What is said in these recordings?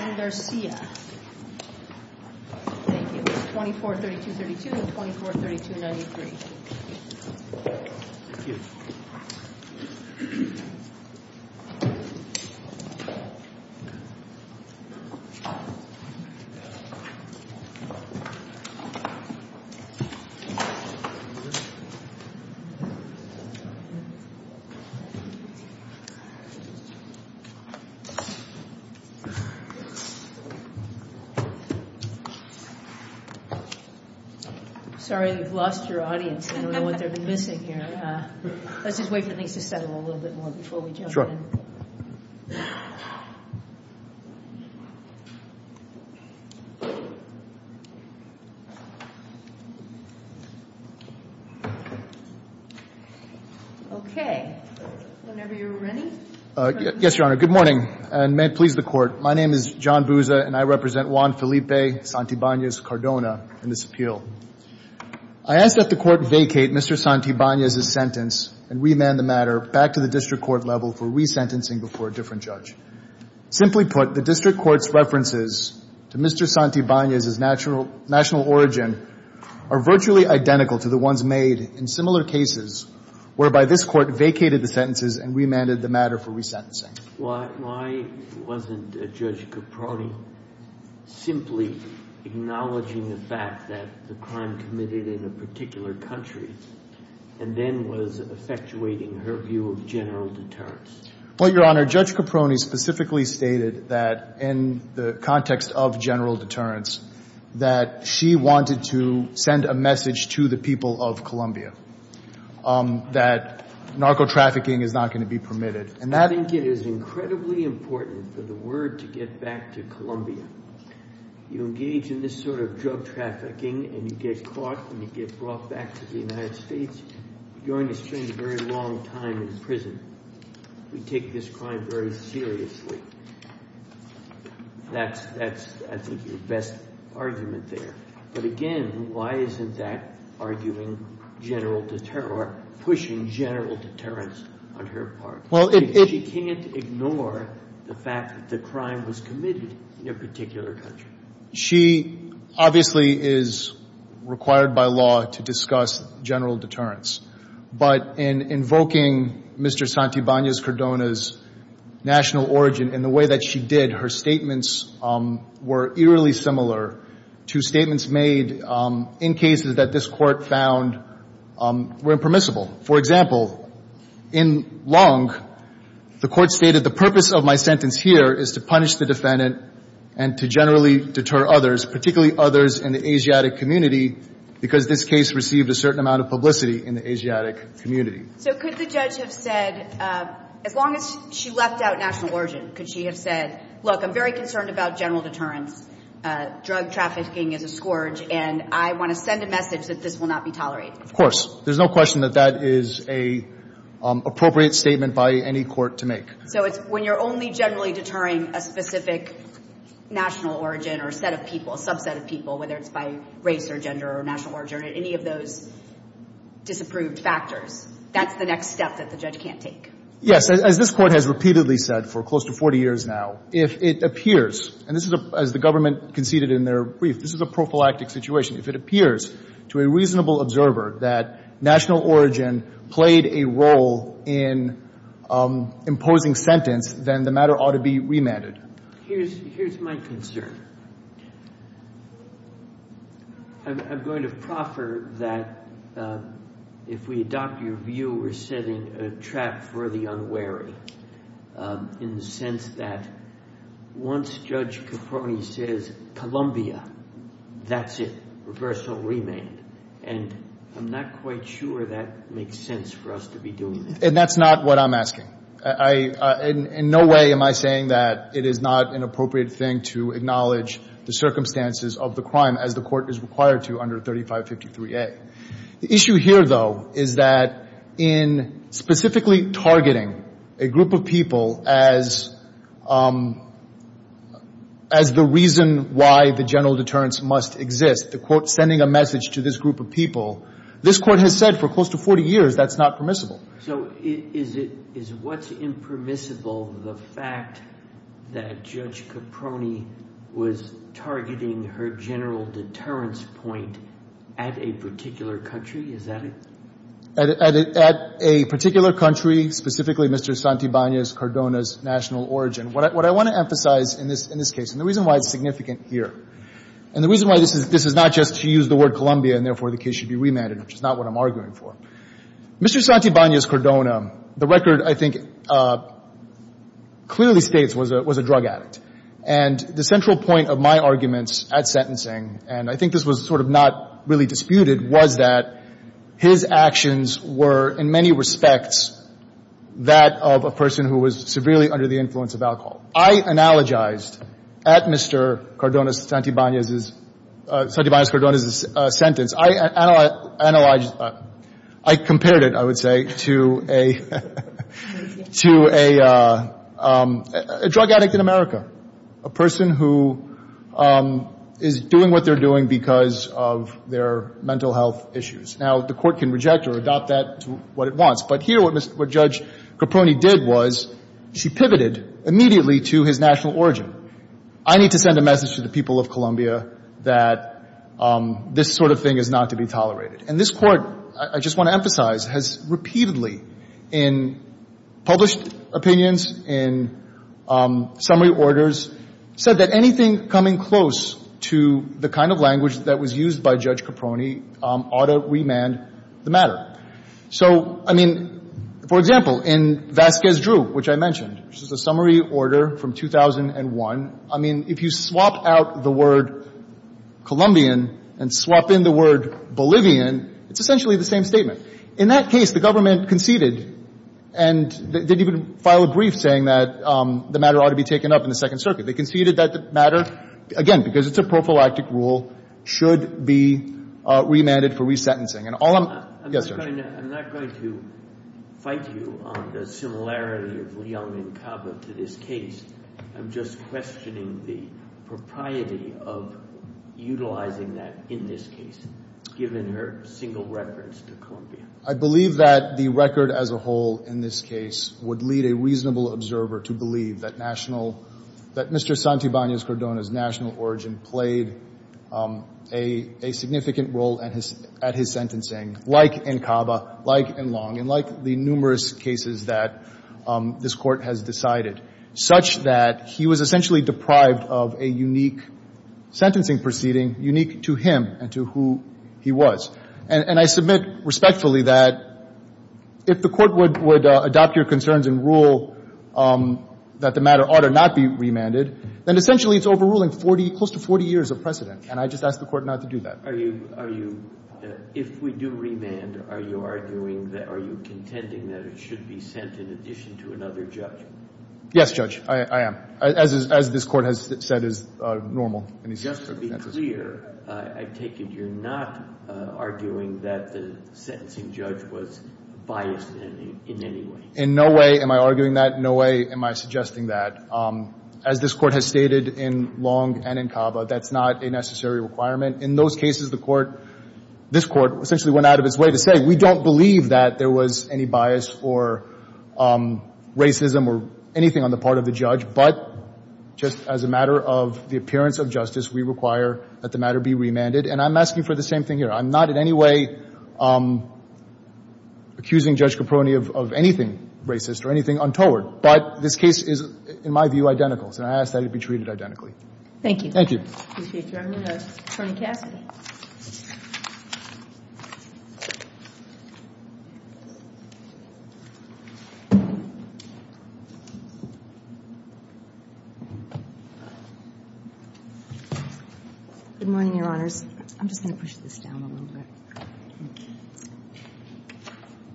and Garcia, 2432.32 and 2432.93. Sorry, we've lost your audience. I don't know what they've been missing here. Let's just wait for things to settle a little bit more before we jump in. Okay. Whenever you're ready. Yes, Your Honor. Good morning, and may it please the Court. My name is John Bouza, and I represent Juan Felipe Santibanez Cardona in this appeal. I ask that the Court vacate Mr. Santibanez's sentence and remand the matter back to the district court level for resentencing before a different judge. Simply put, the district court's references to Mr. Santibanez's national origin are virtually identical to the ones made in similar cases whereby this Court vacated the sentences and remanded the matter for resentencing. Why wasn't Judge Caproni simply acknowledging the fact that the crime committed in a particular country and then was effectuating her view of general deterrence? Well, Your Honor, Judge Caproni specifically stated that in the context of general deterrence that she wanted to send a message to the people of Colombia that narco-trafficking is not going to be permitted. I think it is incredibly important for the word to get back to Colombia. You engage in this sort of drug trafficking and you get caught and you get brought back to the United States. You're going to spend a very long time in prison. We take this crime very seriously. That's, I think, your best argument there. But again, why isn't that arguing general – or pushing general deterrence on her part? She can't ignore the fact that the crime was committed in a particular country. She obviously is required by law to discuss general deterrence. But in invoking Mr. Santibanez-Cordona's national origin and the way that she did, her statements were eerily similar to statements made in cases that this Court found were impermissible. For example, in Long, the Court stated the purpose of my sentence here is to punish the defendant and to generally deter others, particularly others in the Asiatic community, because this case received a certain amount of publicity in the Asiatic community. So could the judge have said, as long as she left out national origin, could she have said, look, I'm very concerned about general deterrence, drug trafficking is a scourge, and I want to send a message that this will not be tolerated? Of course. There's no question that that is an appropriate statement by any court to make. So it's when you're only generally deterring a specific national origin or a set of people, a subset of people, whether it's by race or gender or national origin or any of those disapproved factors, that's the next step that the judge can't take? Yes. As this Court has repeatedly said for close to 40 years now, if it appears – and this is, as the government conceded in their brief, this is a prophylactic situation. If it appears to a reasonable observer that national origin played a role in imposing sentence, then the matter ought to be remanded. Here's my concern. I'm going to proffer that if we adopt your view, we're setting a trap for the unwary in the sense that once Judge Caproni says Columbia, that's it, reversal, remand. And I'm not quite sure that makes sense for us to be doing that. And that's not what I'm asking. In no way am I saying that it is not an appropriate thing to acknowledge the circumstances of the crime as the Court is required to under 3553A. The issue here, though, is that in specifically targeting a group of people as the reason why the general deterrence must exist, the quote, sending a message to this group of people, this Court has said for close to 40 years that's not permissible. So is it – is what's impermissible the fact that Judge Caproni was targeting her general deterrence point at a particular country? Is that it? At a particular country, specifically Mr. Santibanez Cardona's national origin. What I want to emphasize in this case, and the reason why it's significant here, and the reason why this is not just to use the word Columbia and therefore the case should be remanded, which is not what I'm arguing for. Mr. Santibanez Cardona, the record I think clearly states was a drug addict. And the central point of my arguments at sentencing, and I think this was sort of not really disputed, was that his actions were in many respects that of a person who was severely under the influence of alcohol. I analogized at Mr. Cardona's – Santibanez's – Santibanez Cardona's sentence. I analyzed – I compared it, I would say, to a – to a drug addict in America, a person who is doing what they're doing because of their mental health issues. Now, the Court can reject or adopt that to what it wants. But here what Judge Caproni did was she pivoted immediately to his national origin. I need to send a message to the people of Columbia that this sort of thing is not to be tolerated. And this Court, I just want to emphasize, has repeatedly in published opinions, in summary orders, said that anything coming close to the kind of language that was used by Judge Caproni ought to remand the matter. So, I mean, for example, in Vasquez Drew, which I mentioned, which is a summary order from 2001, I mean, if you swap out the word Colombian and swap in the word Bolivian, it's essentially the same statement. In that case, the government conceded and didn't even file a brief saying that the matter ought to be taken up in the Second Circuit. They conceded that the matter, again, because it's a prophylactic rule, should be remanded for resentencing. And all I'm – yes, Judge. I'm not going to fight you on the similarity of Leung and Cava to this case. I'm just questioning the propriety of utilizing that in this case, given her single reference to Columbia. I believe that the record as a whole in this case would lead a reasonable observer to believe that national – that Mr. Santibanez-Cordona's national origin played a significant role at his – at his sentencing, like in Cava, like in Leung, and like the numerous cases that this Court has decided, such that he was essentially deprived of a unique sentencing proceeding unique to him and to who he was. And I submit respectfully that if the Court would adopt your concerns and rule that the matter ought to not be remanded, then essentially it's overruling 40 – close to 40 years of precedent. And I just ask the Court not to do that. Are you – if we do remand, are you arguing that – are you contending that it should be sent in addition to another judge? Yes, Judge. I am. As this Court has said is normal in these circumstances. To be clear, I take it you're not arguing that the sentencing judge was biased in any way. In no way am I arguing that. No way am I suggesting that. As this Court has stated in Leung and in Cava, that's not a necessary requirement. In those cases, the Court – this Court essentially went out of its way to say we don't believe that there was any bias or racism or anything on the part of the judge. But just as a matter of the appearance of justice, we require that the matter be remanded. And I'm asking for the same thing here. I'm not in any way accusing Judge Caproni of anything racist or anything untoward. But this case is, in my view, identical. So I ask that it be treated identically. Thank you. Thank you. I appreciate your evidence. Attorney Cassidy. Good morning, Your Honors. I'm just going to push this down a little bit. Thank you.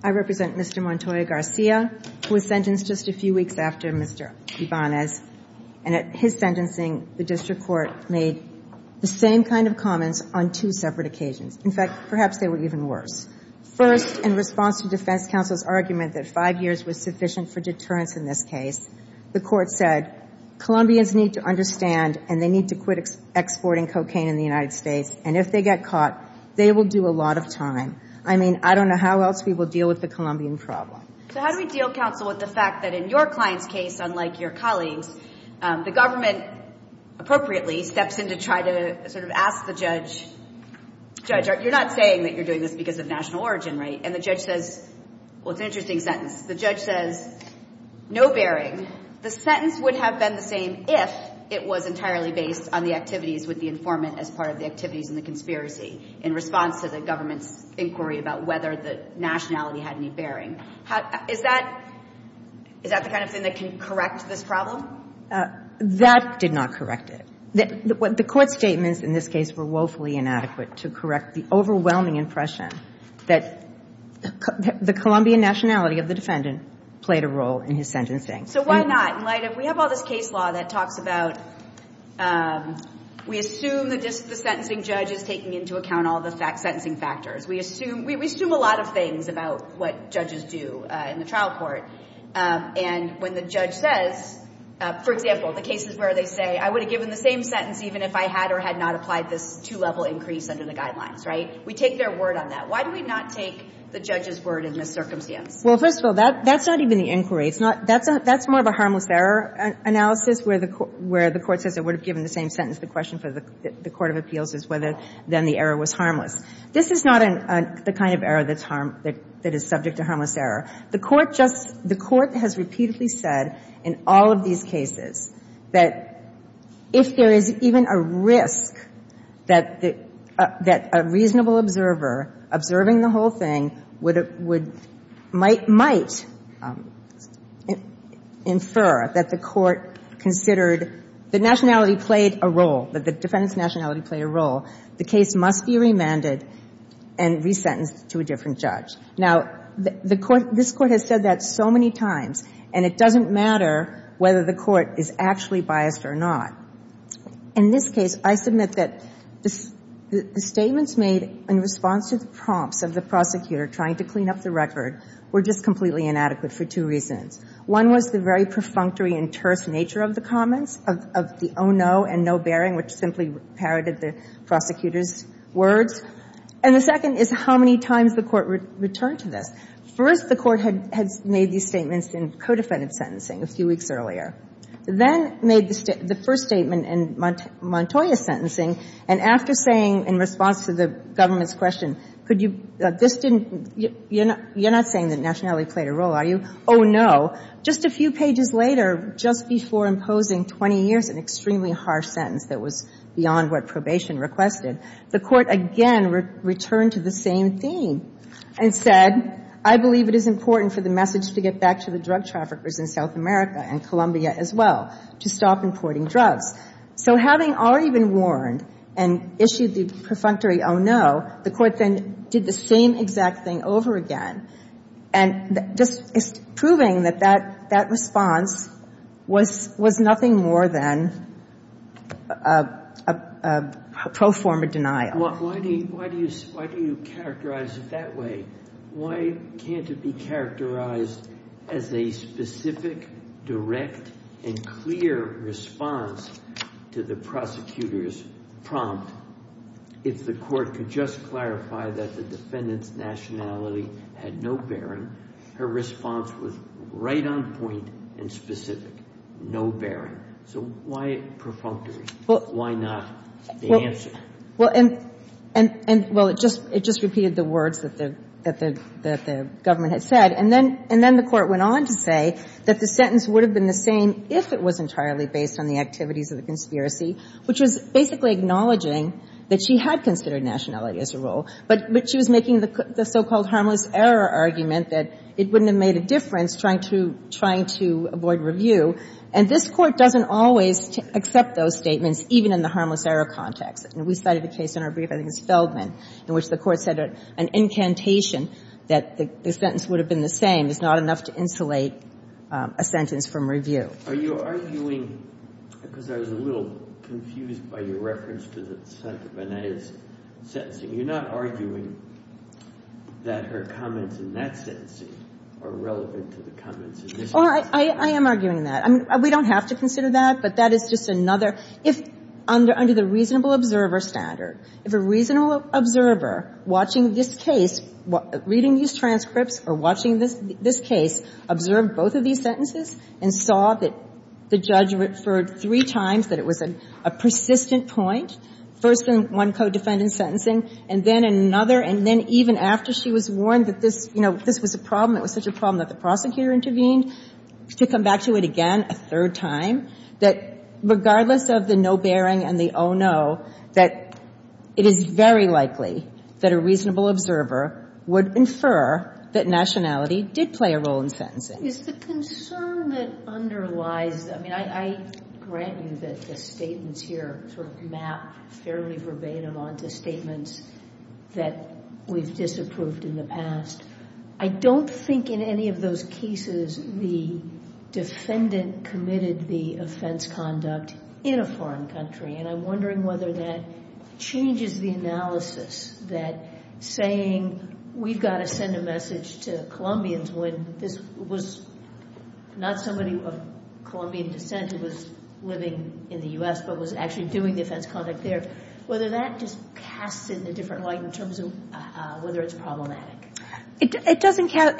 I represent Mr. Montoya Garcia, who was sentenced just a few weeks after Mr. Ibanez. And at his sentencing, the district court made the same kind of comments on two separate occasions. In fact, perhaps they were even worse. First, in response to defense counsel's argument that five years was sufficient for deterrence in this case, the court said, Colombians need to understand and they need to quit exporting cocaine in the United States. And if they get caught, they will do a lot of time. I mean, I don't know how else we will deal with the Colombian problem. So how do we deal, counsel, with the fact that in your client's case, unlike your colleagues, the government appropriately steps in to try to sort of ask the judge, Judge, you're not saying that you're doing this because of national origin, right? And the judge says, well, it's an interesting sentence. The judge says, no bearing. The sentence would have been the same if it was entirely based on the activities with the informant as part of the activities in the conspiracy in response to the government's inquiry about whether the nationality had any bearing. Is that the kind of thing that can correct this problem? That did not correct it. The court's statements in this case were woefully inadequate to correct the overwhelming impression that the Colombian nationality of the defendant played a role in his sentencing. So why not? In light of we have all this case law that talks about we assume that just the sentencing judge is taking into account all the sentencing factors. We assume a lot of things about what judges do in the trial court. And when the judge says, for example, the cases where they say I would have given the same sentence even if I had or had not applied this two-level increase under the guidelines, right, we take their word on that. Why do we not take the judge's word in this circumstance? Well, first of all, that's not even the inquiry. That's more of a harmless error analysis where the court says it would have given the same sentence. The question for the court of appeals is whether then the error was harmless. This is not the kind of error that's harm — that is subject to harmless error. The court just — the court has repeatedly said in all of these cases that if there is even a risk that a reasonable observer observing the whole thing would — might infer that the court considered the nationality played a role, that the defendant's and resentenced to a different judge. Now, the court — this court has said that so many times. And it doesn't matter whether the court is actually biased or not. In this case, I submit that the statements made in response to the prompts of the prosecutor trying to clean up the record were just completely inadequate for two reasons. One was the very perfunctory and terse nature of the comments, of the oh, no and no bearing, which simply parroted the prosecutor's words. And the second is how many times the court returned to this. First, the court had made these statements in co-defendant sentencing a few weeks earlier. Then made the first statement in Montoya sentencing. And after saying in response to the government's question, could you — this didn't — you're not saying that nationality played a role, are you? Oh, no. Just a few pages later, just before imposing 20 years, an extremely harsh sentence that was beyond what probation requested, the court again returned to the same theme and said, I believe it is important for the message to get back to the drug traffickers in South America and Colombia as well, to stop importing drugs. So having already been warned and issued the perfunctory oh, no, the court then did the same exact thing over again. And just proving that that response was nothing more than a pro forma denial. Why do you characterize it that way? Why can't it be characterized as a specific, direct and clear response to the prosecutor's prompt if the court could just clarify that the defendant's nationality had no bearing? Her response was right on point and specific. No bearing. So why perfunctory? Why not the answer? Well, it just repeated the words that the government had said. And then the court went on to say that the sentence would have been the same if it was entirely based on the activities of the conspiracy, which was basically acknowledging that she had considered nationality as a role. But she was making the so-called harmless error argument that it wouldn't have made a difference trying to avoid review. And this Court doesn't always accept those statements, even in the harmless error context. We cited a case in our brief, I think it was Feldman, in which the Court said an incantation that the sentence would have been the same is not enough to insulate a sentence from review. Are you arguing, because I was a little confused by your reference to the Senator Bonet's sentencing, you're not arguing that her comments in that sentencing are relevant to the comments in this case? I am arguing that. I mean, we don't have to consider that, but that is just another. If under the reasonable observer standard, if a reasonable observer watching this case, reading these transcripts or watching this case, observed both of these sentences and saw that the judge referred three times that it was a persistent point, first in one co-defendant's sentencing, and then another, and then even after she was warned that this, you know, this was a problem, it was such a problem that the prosecutor intervened, to come back to it again a third time, that regardless of the no bearing and the oh, no, that it is very likely that a reasonable observer would infer that nationality did play a role in sentencing. Is the concern that underlies, I mean, I grant you that the statements here sort of map fairly verbatim onto statements that we've disapproved in the past. I don't think in any of those cases the defendant committed the offense conduct in a foreign country, and I'm wondering whether that changes the analysis that we've got to send a message to Colombians when this was not somebody of Colombian descent who was living in the U.S., but was actually doing the offense conduct there, whether that just casts it in a different light in terms of whether it's problematic. It doesn't cast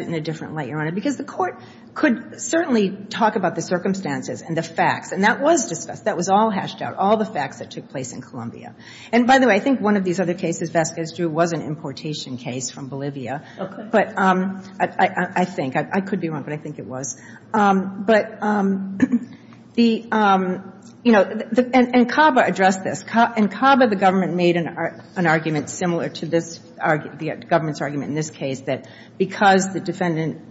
it in a different light, Your Honor, because the Court could certainly talk about the circumstances and the facts, and that was discussed. That was all hashed out, all the facts that took place in Colombia. And by the way, I think one of these other cases Vasquez drew was an importation case from Bolivia, but I think. I could be wrong, but I think it was. But the, you know, and CABA addressed this. In CABA, the government made an argument similar to this government's argument in this case, that because the defendant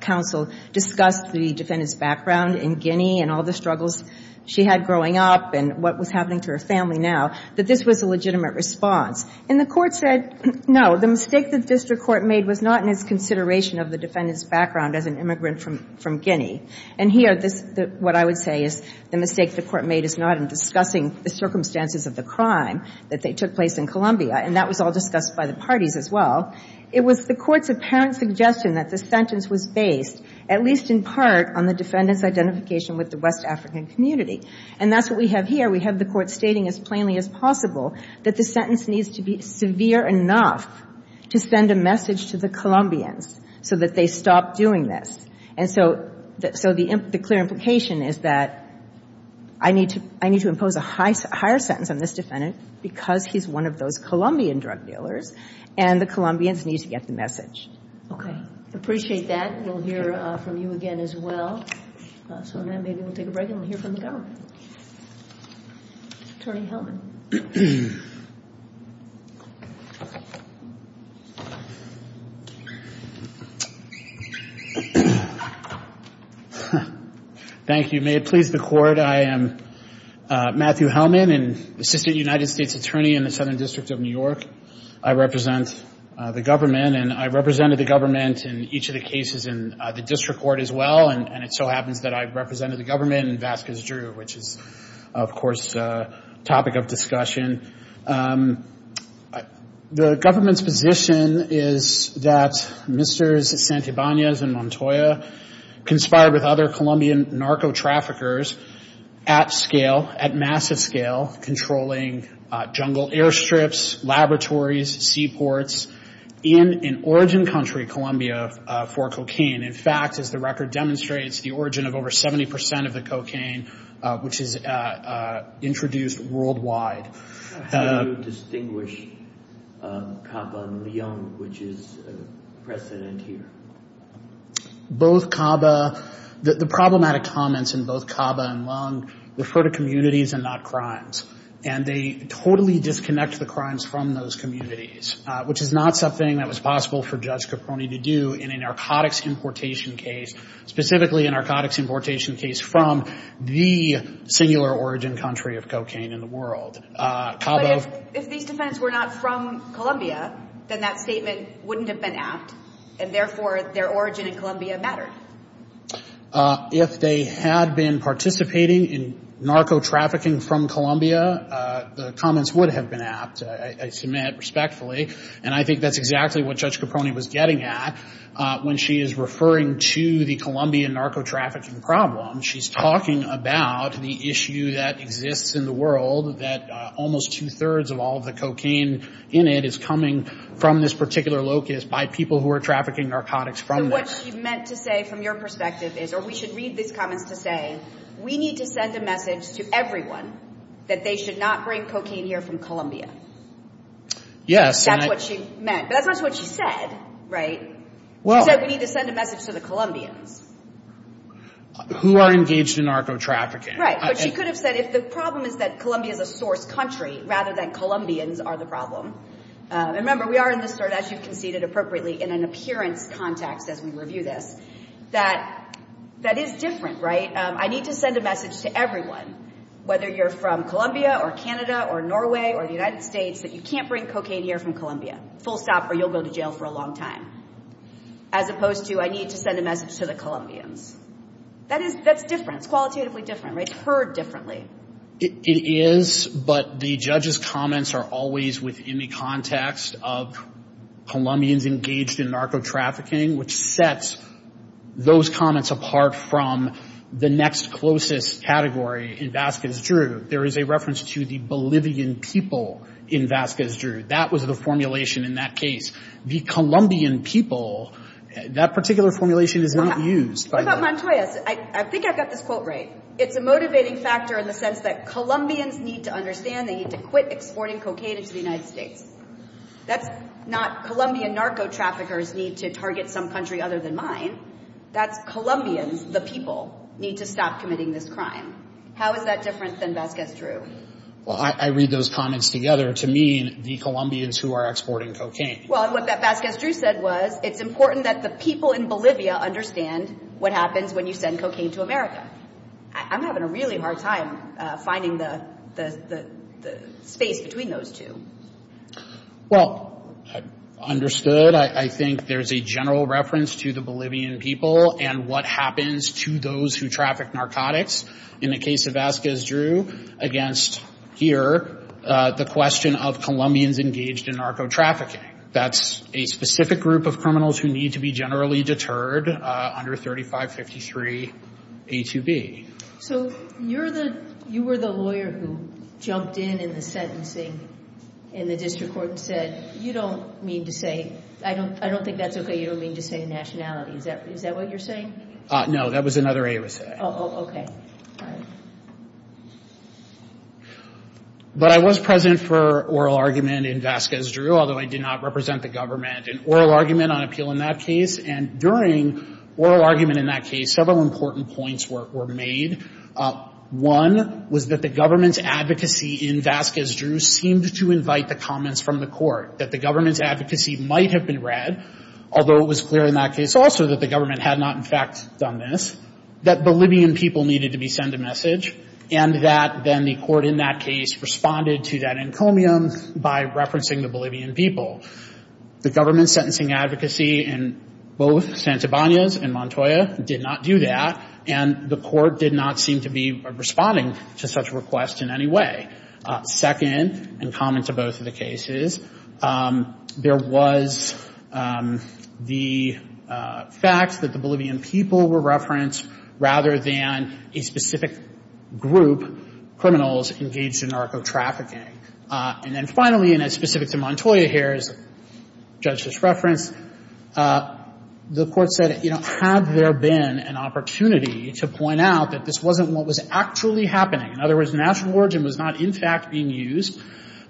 counsel discussed the defendant's background in Guinea and all the struggles she had growing up and what was happening to her family now, that this was a legitimate response. And the Court said, no, the mistake the district court made was not in its consideration of the defendant's background as an immigrant from Guinea. And here, what I would say is the mistake the Court made is not in discussing the circumstances of the crime that took place in Colombia, and that was all discussed by the parties as well. It was the Court's apparent suggestion that the sentence was based, at least in part, on the defendant's identification with the West African community. And that's what we have here. We have the Court stating as plainly as possible that the sentence needs to be severe enough to send a message to the Colombians so that they stop doing this. And so the clear implication is that I need to impose a higher sentence on this defendant because he's one of those Colombian drug dealers, and the Colombians need to get the message. Okay. Appreciate that. We'll hear from you again as well. So now maybe we'll take a break and we'll hear from the government. Attorney Hellman. Thank you. May it please the Court. I am Matthew Hellman, an Assistant United States Attorney in the Southern District of New York. I represent the government, and I represented the government in each of the cases in the district court as well, and it so happens that I represented the government in Vasquez Drew, which is, of course, a topic of discussion. The government's position is that Mr. Santibanez and Montoya conspired with other Colombian narco-traffickers at scale, at massive scale, controlling jungle airstrips, laboratories, seaports, in an origin country, Colombia, for cocaine. In fact, as the record demonstrates, the origin of over 70 percent of the cocaine, which is introduced worldwide. How do you distinguish CABA and Lyon, which is a precedent here? Both CABA, the problematic comments in both CABA and Lyon refer to communities and not crimes. And they totally disconnect the crimes from those communities, which is not something that was possible for Judge Caproni to do in a narcotics importation case, specifically a narcotics importation case from the singular origin country of cocaine in the world. But if these defendants were not from Colombia, then that statement wouldn't have been apt, and therefore their origin in Colombia mattered. If they had been participating in narco-trafficking from Colombia, the comments would have been apt. I submit respectfully, and I think that's exactly what Judge Caproni was getting at when she is referring to the Colombian narco-trafficking problem. She's talking about the issue that exists in the world, that almost two-thirds of all the cocaine in it is coming from this particular locus by people who are trafficking narcotics from there. What she meant to say from your perspective is, or we should read these comments to say, we need to send a message to everyone that they should not bring cocaine here from Colombia. Yes. That's what she meant. That's what she said, right? She said we need to send a message to the Colombians. Who are engaged in narco-trafficking. Right. But she could have said, if the problem is that Colombia is a source country rather than Colombians are the problem. Remember, we are in this sort of, as you conceded appropriately, in an appearance context as we review this, that that is different, right? I need to send a message to everyone, whether you're from Colombia or Canada or Norway or the United States, that you can't bring cocaine here from Colombia. Full stop or you'll go to jail for a long time. As opposed to, I need to send a message to the Colombians. That is, that's different. It's qualitatively different, right? It's heard differently. It is, but the judge's comments are always within the context of Colombians engaged in narco-trafficking, which sets those comments apart from the next closest category in Vasquez Drew. There is a reference to the Bolivian people in Vasquez Drew. That was the formulation in that case. The Colombian people, that particular formulation is not used. What about Montoya's? I think I've got this quote right. It's a motivating factor in the sense that Colombians need to understand they need to quit exporting cocaine into the United States. That's not Colombian narco-traffickers need to target some country other than mine. That's Colombians, the people, need to stop committing this crime. How is that different than Vasquez Drew? Well, I read those comments together to mean the Colombians who are exporting cocaine. Well, and what Vasquez Drew said was, it's important that the people in Bolivia understand what happens when you send cocaine to America. I'm having a really hard time finding the space between those two. Well, understood. I think there's a general reference to the Bolivian people and what happens to those who traffic narcotics in the case of Vasquez Drew against here, the question of Colombians engaged in narco-trafficking. That's a specific group of criminals who need to be generally deterred under 3553A2B. So you were the lawyer who jumped in in the sentencing in the district court and said, you don't mean to say, I don't think that's okay, you don't mean to say nationality. Is that what you're saying? No, that was another A it was saying. Oh, okay. All right. But I was present for oral argument in Vasquez Drew, although I did not represent the government, an oral argument on appeal in that case. And during oral argument in that case, several important points were made. One was that the government's advocacy in Vasquez Drew seemed to invite the comments from the court, that the government's advocacy might have been read, although it was clear in that case also that the government had not, in fact, done this, that Bolivian people needed to be sent a message, and that then the court in that case responded to that encomium by referencing the Bolivian people. The government's sentencing advocacy in both Santibanez and Montoya did not do that, and the court did not seem to be responding to such requests in any way. Second, and common to both of the cases, there was the fact that the Bolivian people were referenced rather than a specific group, criminals engaged in narco-trafficking. And then finally, and it's specific to Montoya here, as the judge just referenced, the court said, you know, had there been an opportunity to point out that this wasn't what was actually happening, in other words, natural origin was not, in fact, being used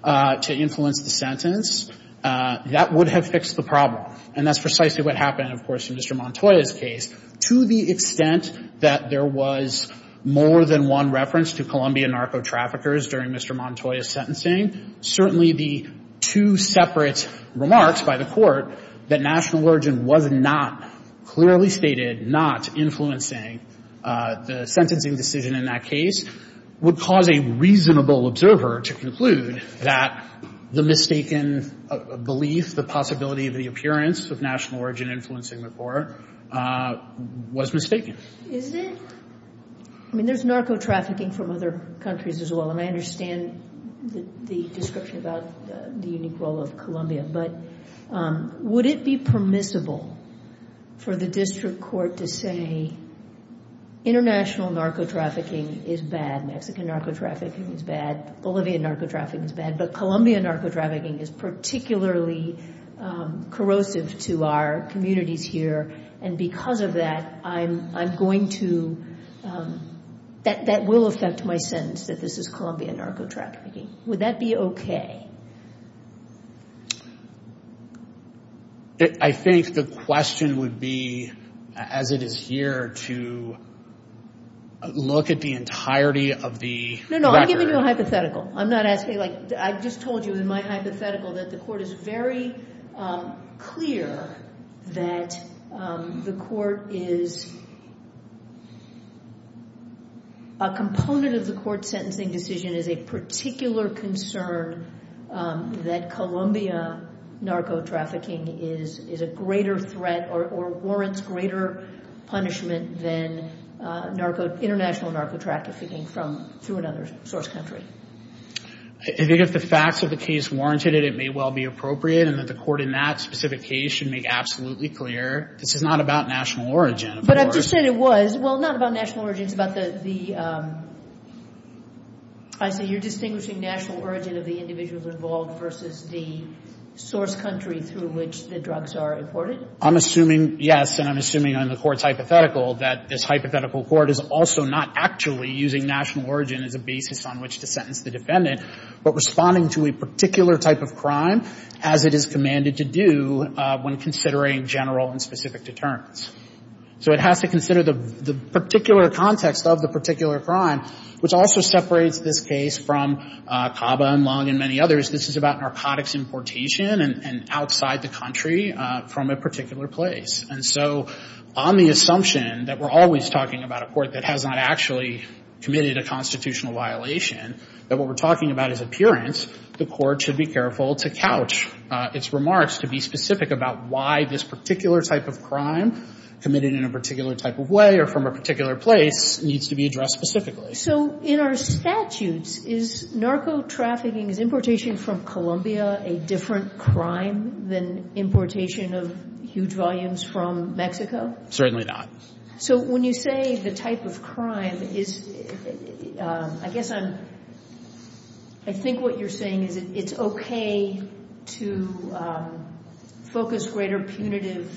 to influence the sentence, that would have fixed the problem. And that's precisely what happened, of course, in Mr. Montoya's case. To the extent that there was more than one reference to Colombian narco-traffickers during Mr. Montoya's sentencing, certainly the two separate remarks by the court that natural origin was not clearly stated, not influencing the sentencing decision in that case, would cause a reasonable observer to conclude that the influence of national origin influencing the court was mistaken. Is it? I mean, there's narco-trafficking from other countries as well, and I understand the description about the unique role of Colombia, but would it be permissible for the district court to say international narco-trafficking is bad, Mexican narco-trafficking is bad, Bolivian narco-trafficking is bad, but Colombia narco-trafficking is particularly corrosive to our communities here, and because of that, I'm going to, that will affect my sentence, that this is Colombia narco-trafficking. Would that be okay? I think the question would be, as it is here, to look at the entirety of the record. No, no, I'm giving you a hypothetical. I'm not asking, like, I just told you in my hypothetical that the court is very clear that the court is, a component of the court's sentencing decision is a particular concern that Colombia narco-trafficking is a greater threat or warrants greater punishment than international narco-trafficking from, through another source country. I think if the facts of the case warranted it, it may well be appropriate, and that the court in that specific case should make absolutely clear this is not about national origin. But I've just said it was. Well, not about national origin. It's about the, I see you're distinguishing national origin of the individuals involved versus the source country through which the drugs are imported. I'm assuming, yes, and I'm assuming on the court's hypothetical that this hypothetical court is also not actually using national origin as a basis on which to sentence the defendant, but responding to a particular type of crime as it is commanded to do when considering general and specific deterrents. So it has to consider the particular context of the particular crime, which also separates this case from CABA and LUNG and many others. This is about narcotics importation and outside the country from a particular place. And so on the assumption that we're always talking about a court that has not actually committed a constitutional violation, that what we're talking about is appearance, the court should be careful to couch its remarks to be specific about why this particular type of crime, committed in a particular type of way or from a particular place, needs to be addressed specifically. So in our statutes, is narco-trafficking, is importation from Colombia a different crime than importation of huge volumes from Mexico? Certainly not. So when you say the type of crime is, I guess I'm, I think what you're saying is it's okay to focus greater punitive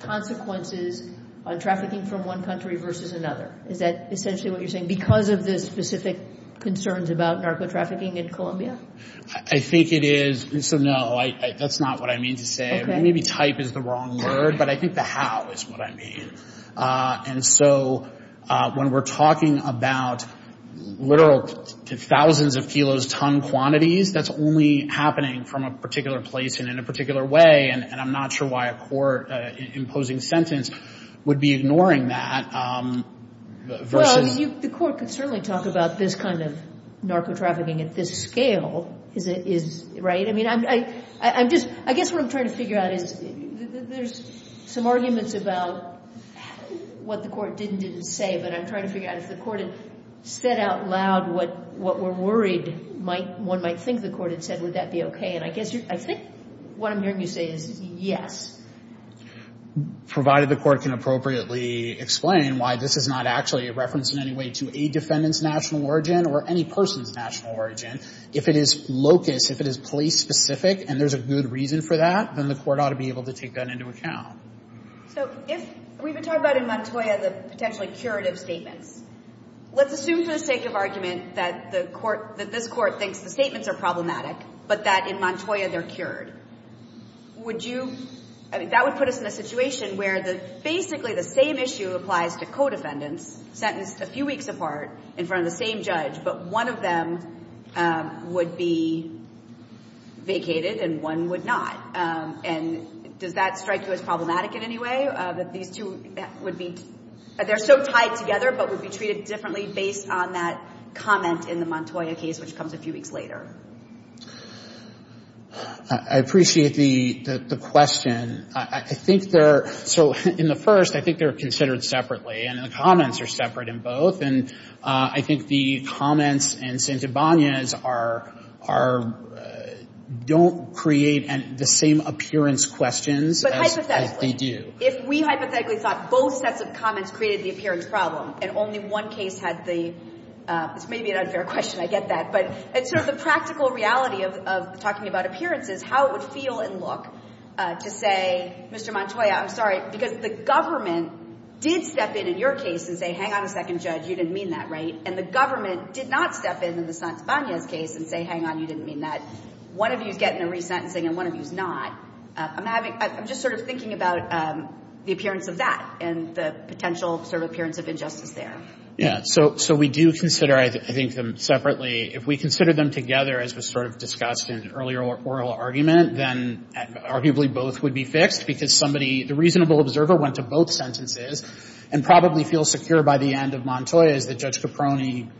consequences on trafficking from one country versus another. Is that essentially what you're saying because of the specific concerns about narco-trafficking in Colombia? I think it is. So no, that's not what I mean to say. Maybe type is the wrong word, but I think the how is what I mean. And so when we're talking about literal thousands of kilos ton quantities, that's only happening from a particular place and in a particular way, and I'm not sure why a court-imposing sentence would be ignoring that versus Well, I mean, the court could certainly talk about this kind of narco-trafficking at this scale, right? I mean, I'm just, I guess what I'm trying to figure out is there's some arguments about what the court did and didn't say, but I'm trying to figure out if the court had said out loud what we're worried one might think the court had said, would that be okay? And I think what I'm hearing you say is yes. Provided the court can appropriately explain why this is not actually a reference in any way to a defendant's national origin or any person's national origin. If it is locus, if it is police-specific and there's a good reason for that, then the court ought to be able to take that into account. So if we were talking about in Montoya the potentially curative statements, let's assume for the sake of argument that the court, that this court thinks the statements are problematic, but that in Montoya they're cured. Would you, that would put us in a situation where basically the same issue applies to co-defendants sentenced a few weeks apart in front of the same judge, but one of them would be vacated and one would not. And does that strike you as problematic in any way, that these two would be, they're so tied together but would be treated differently based on that comment in the Montoya case which comes a few weeks later? I appreciate the question. I think they're, so in the first, I think they're considered separately and the comments are separate in both. And I think the comments in Santibanez are, don't create the same appearance questions as they do. But hypothetically, if we hypothetically thought both sets of comments created the appearance problem and only one case had the, this may be an unfair question, I get that. But it's sort of the practical reality of talking about appearances, how it would feel and look to say, Mr. Montoya, I'm sorry, because the government did step in in your case and say, hang on a second, Judge, you didn't mean that, right? And the government did not step in in the Santibanez case and say, hang on, you didn't mean that. One of you is getting a resentencing and one of you is not. I'm having, I'm just sort of thinking about the appearance of that and the potential sort of appearance of injustice there. Yeah. So we do consider, I think, them separately. If we consider them together, as was sort of discussed in earlier oral argument, then arguably both would be fixed because somebody, the reasonable observer went to both sentences and probably feels secure by the end of Montoya's that Judge Caproni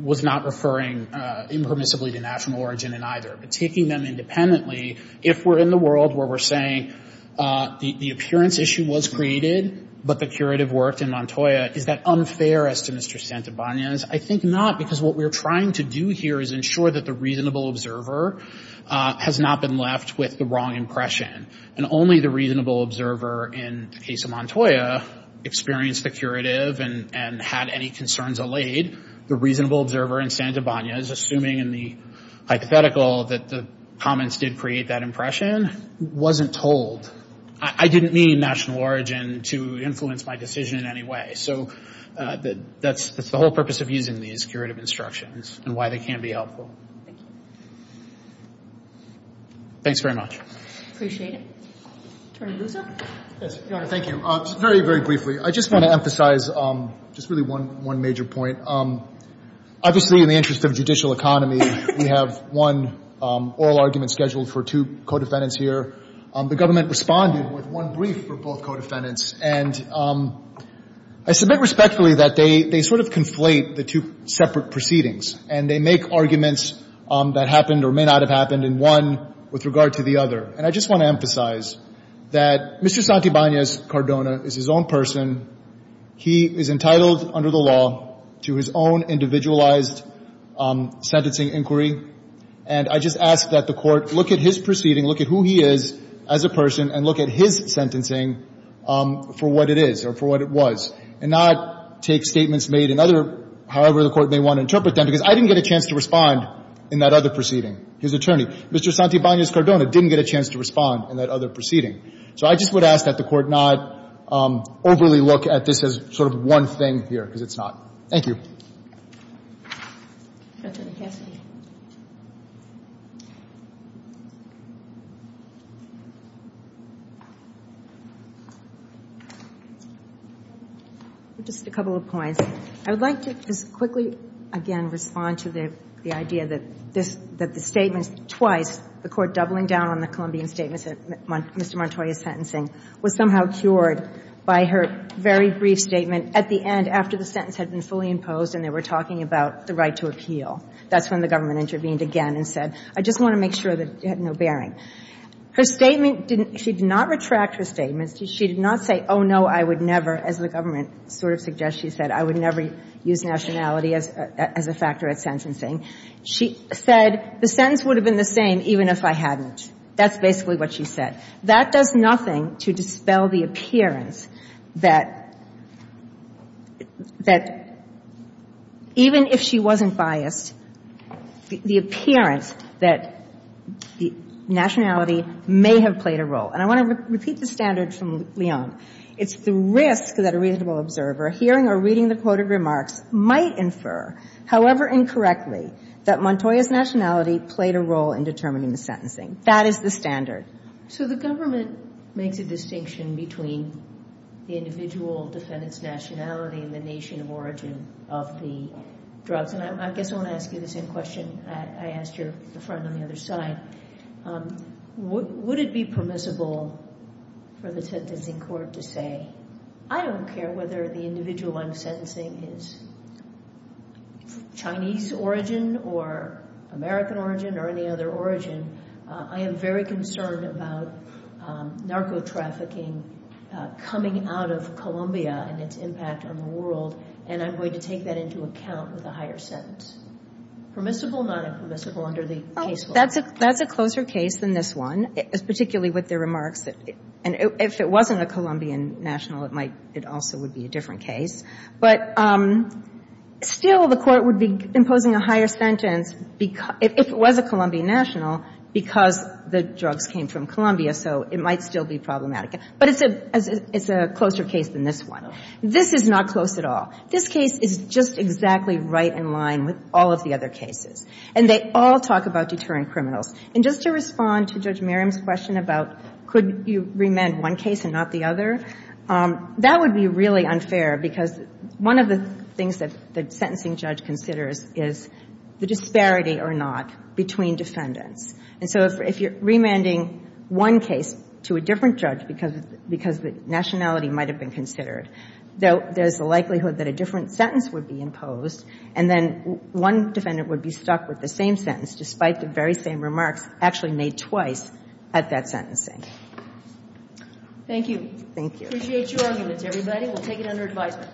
was not referring impermissibly to national origin in either. But taking them independently, if we're in the world where we're saying the appearance issue was created, but the curative worked in Montoya, is that unfair as to Mr. Santibanez? I think not because what we're trying to do here is ensure that the reasonable observer has not been left with the wrong impression and only the reasonable observer in the case of Montoya experienced the curative and had any concerns allayed. The reasonable observer in Santibanez, assuming in the hypothetical that the comments did create that impression, wasn't told. I didn't mean national origin to influence my decision in any way. So that's the whole purpose of using these curative instructions and why they can be helpful. Thank you. Thanks very much. Appreciate it. Attorney Luzzo. Yes, Your Honor. Thank you. Very, very briefly. I just want to emphasize just really one major point. Obviously, in the interest of judicial economy, we have one oral argument scheduled for two co-defendants here. The government responded with one brief for both co-defendants. And I submit respectfully that they sort of conflate the two separate proceedings and they make arguments that happened or may not have happened in one with regard to the other. And I just want to emphasize that Mr. Santibanez Cardona is his own person. He is entitled under the law to his own individualized sentencing inquiry. And I just ask that the Court look at his proceeding, look at who he is as a person, and look at his sentencing for what it is or for what it was, and not take statements made in other, however the Court may want to interpret them, because I didn't get a chance to respond in that other proceeding, his attorney. Mr. Santibanez Cardona didn't get a chance to respond in that other proceeding. So I just would ask that the Court not overly look at this as sort of one thing here because it's not. Thank you. Just a couple of points. I would like to just quickly, again, respond to the idea that the statements twice, the Court doubling down on the Colombian statements that Mr. Montoya is sentencing, was somehow cured by her very brief statement at the end after the sentence had been fully imposed. And they were talking about the right to appeal. That's when the government intervened again and said, I just want to make sure that you have no bearing. Her statement didn't – she did not retract her statements. She did not say, oh, no, I would never, as the government sort of suggests she said, I would never use nationality as a factor at sentencing. She said, the sentence would have been the same even if I hadn't. That's basically what she said. That does nothing to dispel the appearance that – that even if she wasn't biased, the appearance that the nationality may have played a role. And I want to repeat the standard from Leon. It's the risk that a reasonable observer, hearing or reading the quoted remarks, might infer, however incorrectly, that Montoya's nationality played a role in determining the sentencing. That is the standard. So the government makes a distinction between the individual defendant's nationality and the nation of origin of the drugs. And I guess I want to ask you the same question I asked your friend on the other side. Would it be permissible for the sentencing court to say, I don't care whether the individual I'm sentencing is Chinese origin or American origin or any other origin. I am very concerned about narco-trafficking coming out of Colombia and its impact on the world. And I'm going to take that into account with a higher sentence. Permissible, non-permissible under the case law? That's a closer case than this one, particularly with the remarks. And if it wasn't a Colombian national, it also would be a different case. But still the court would be imposing a higher sentence if it was a Colombian national because the drugs came from Colombia, so it might still be problematic. But it's a closer case than this one. This is not close at all. This case is just exactly right in line with all of the other cases. And they all talk about deterrent criminals. And just to respond to Judge Merriam's question about could you remand one case and not the other, that would be really unfair because one of the things that the sentencing judge considers is the disparity or not between defendants. And so if you're remanding one case to a different judge because nationality might have been considered, there's the likelihood that a different sentence would be imposed and then one defendant would be stuck with the same sentence despite the very same remarks actually made twice at that sentencing. Thank you. Thank you. Appreciate your arguments, everybody. We'll take it under advisement.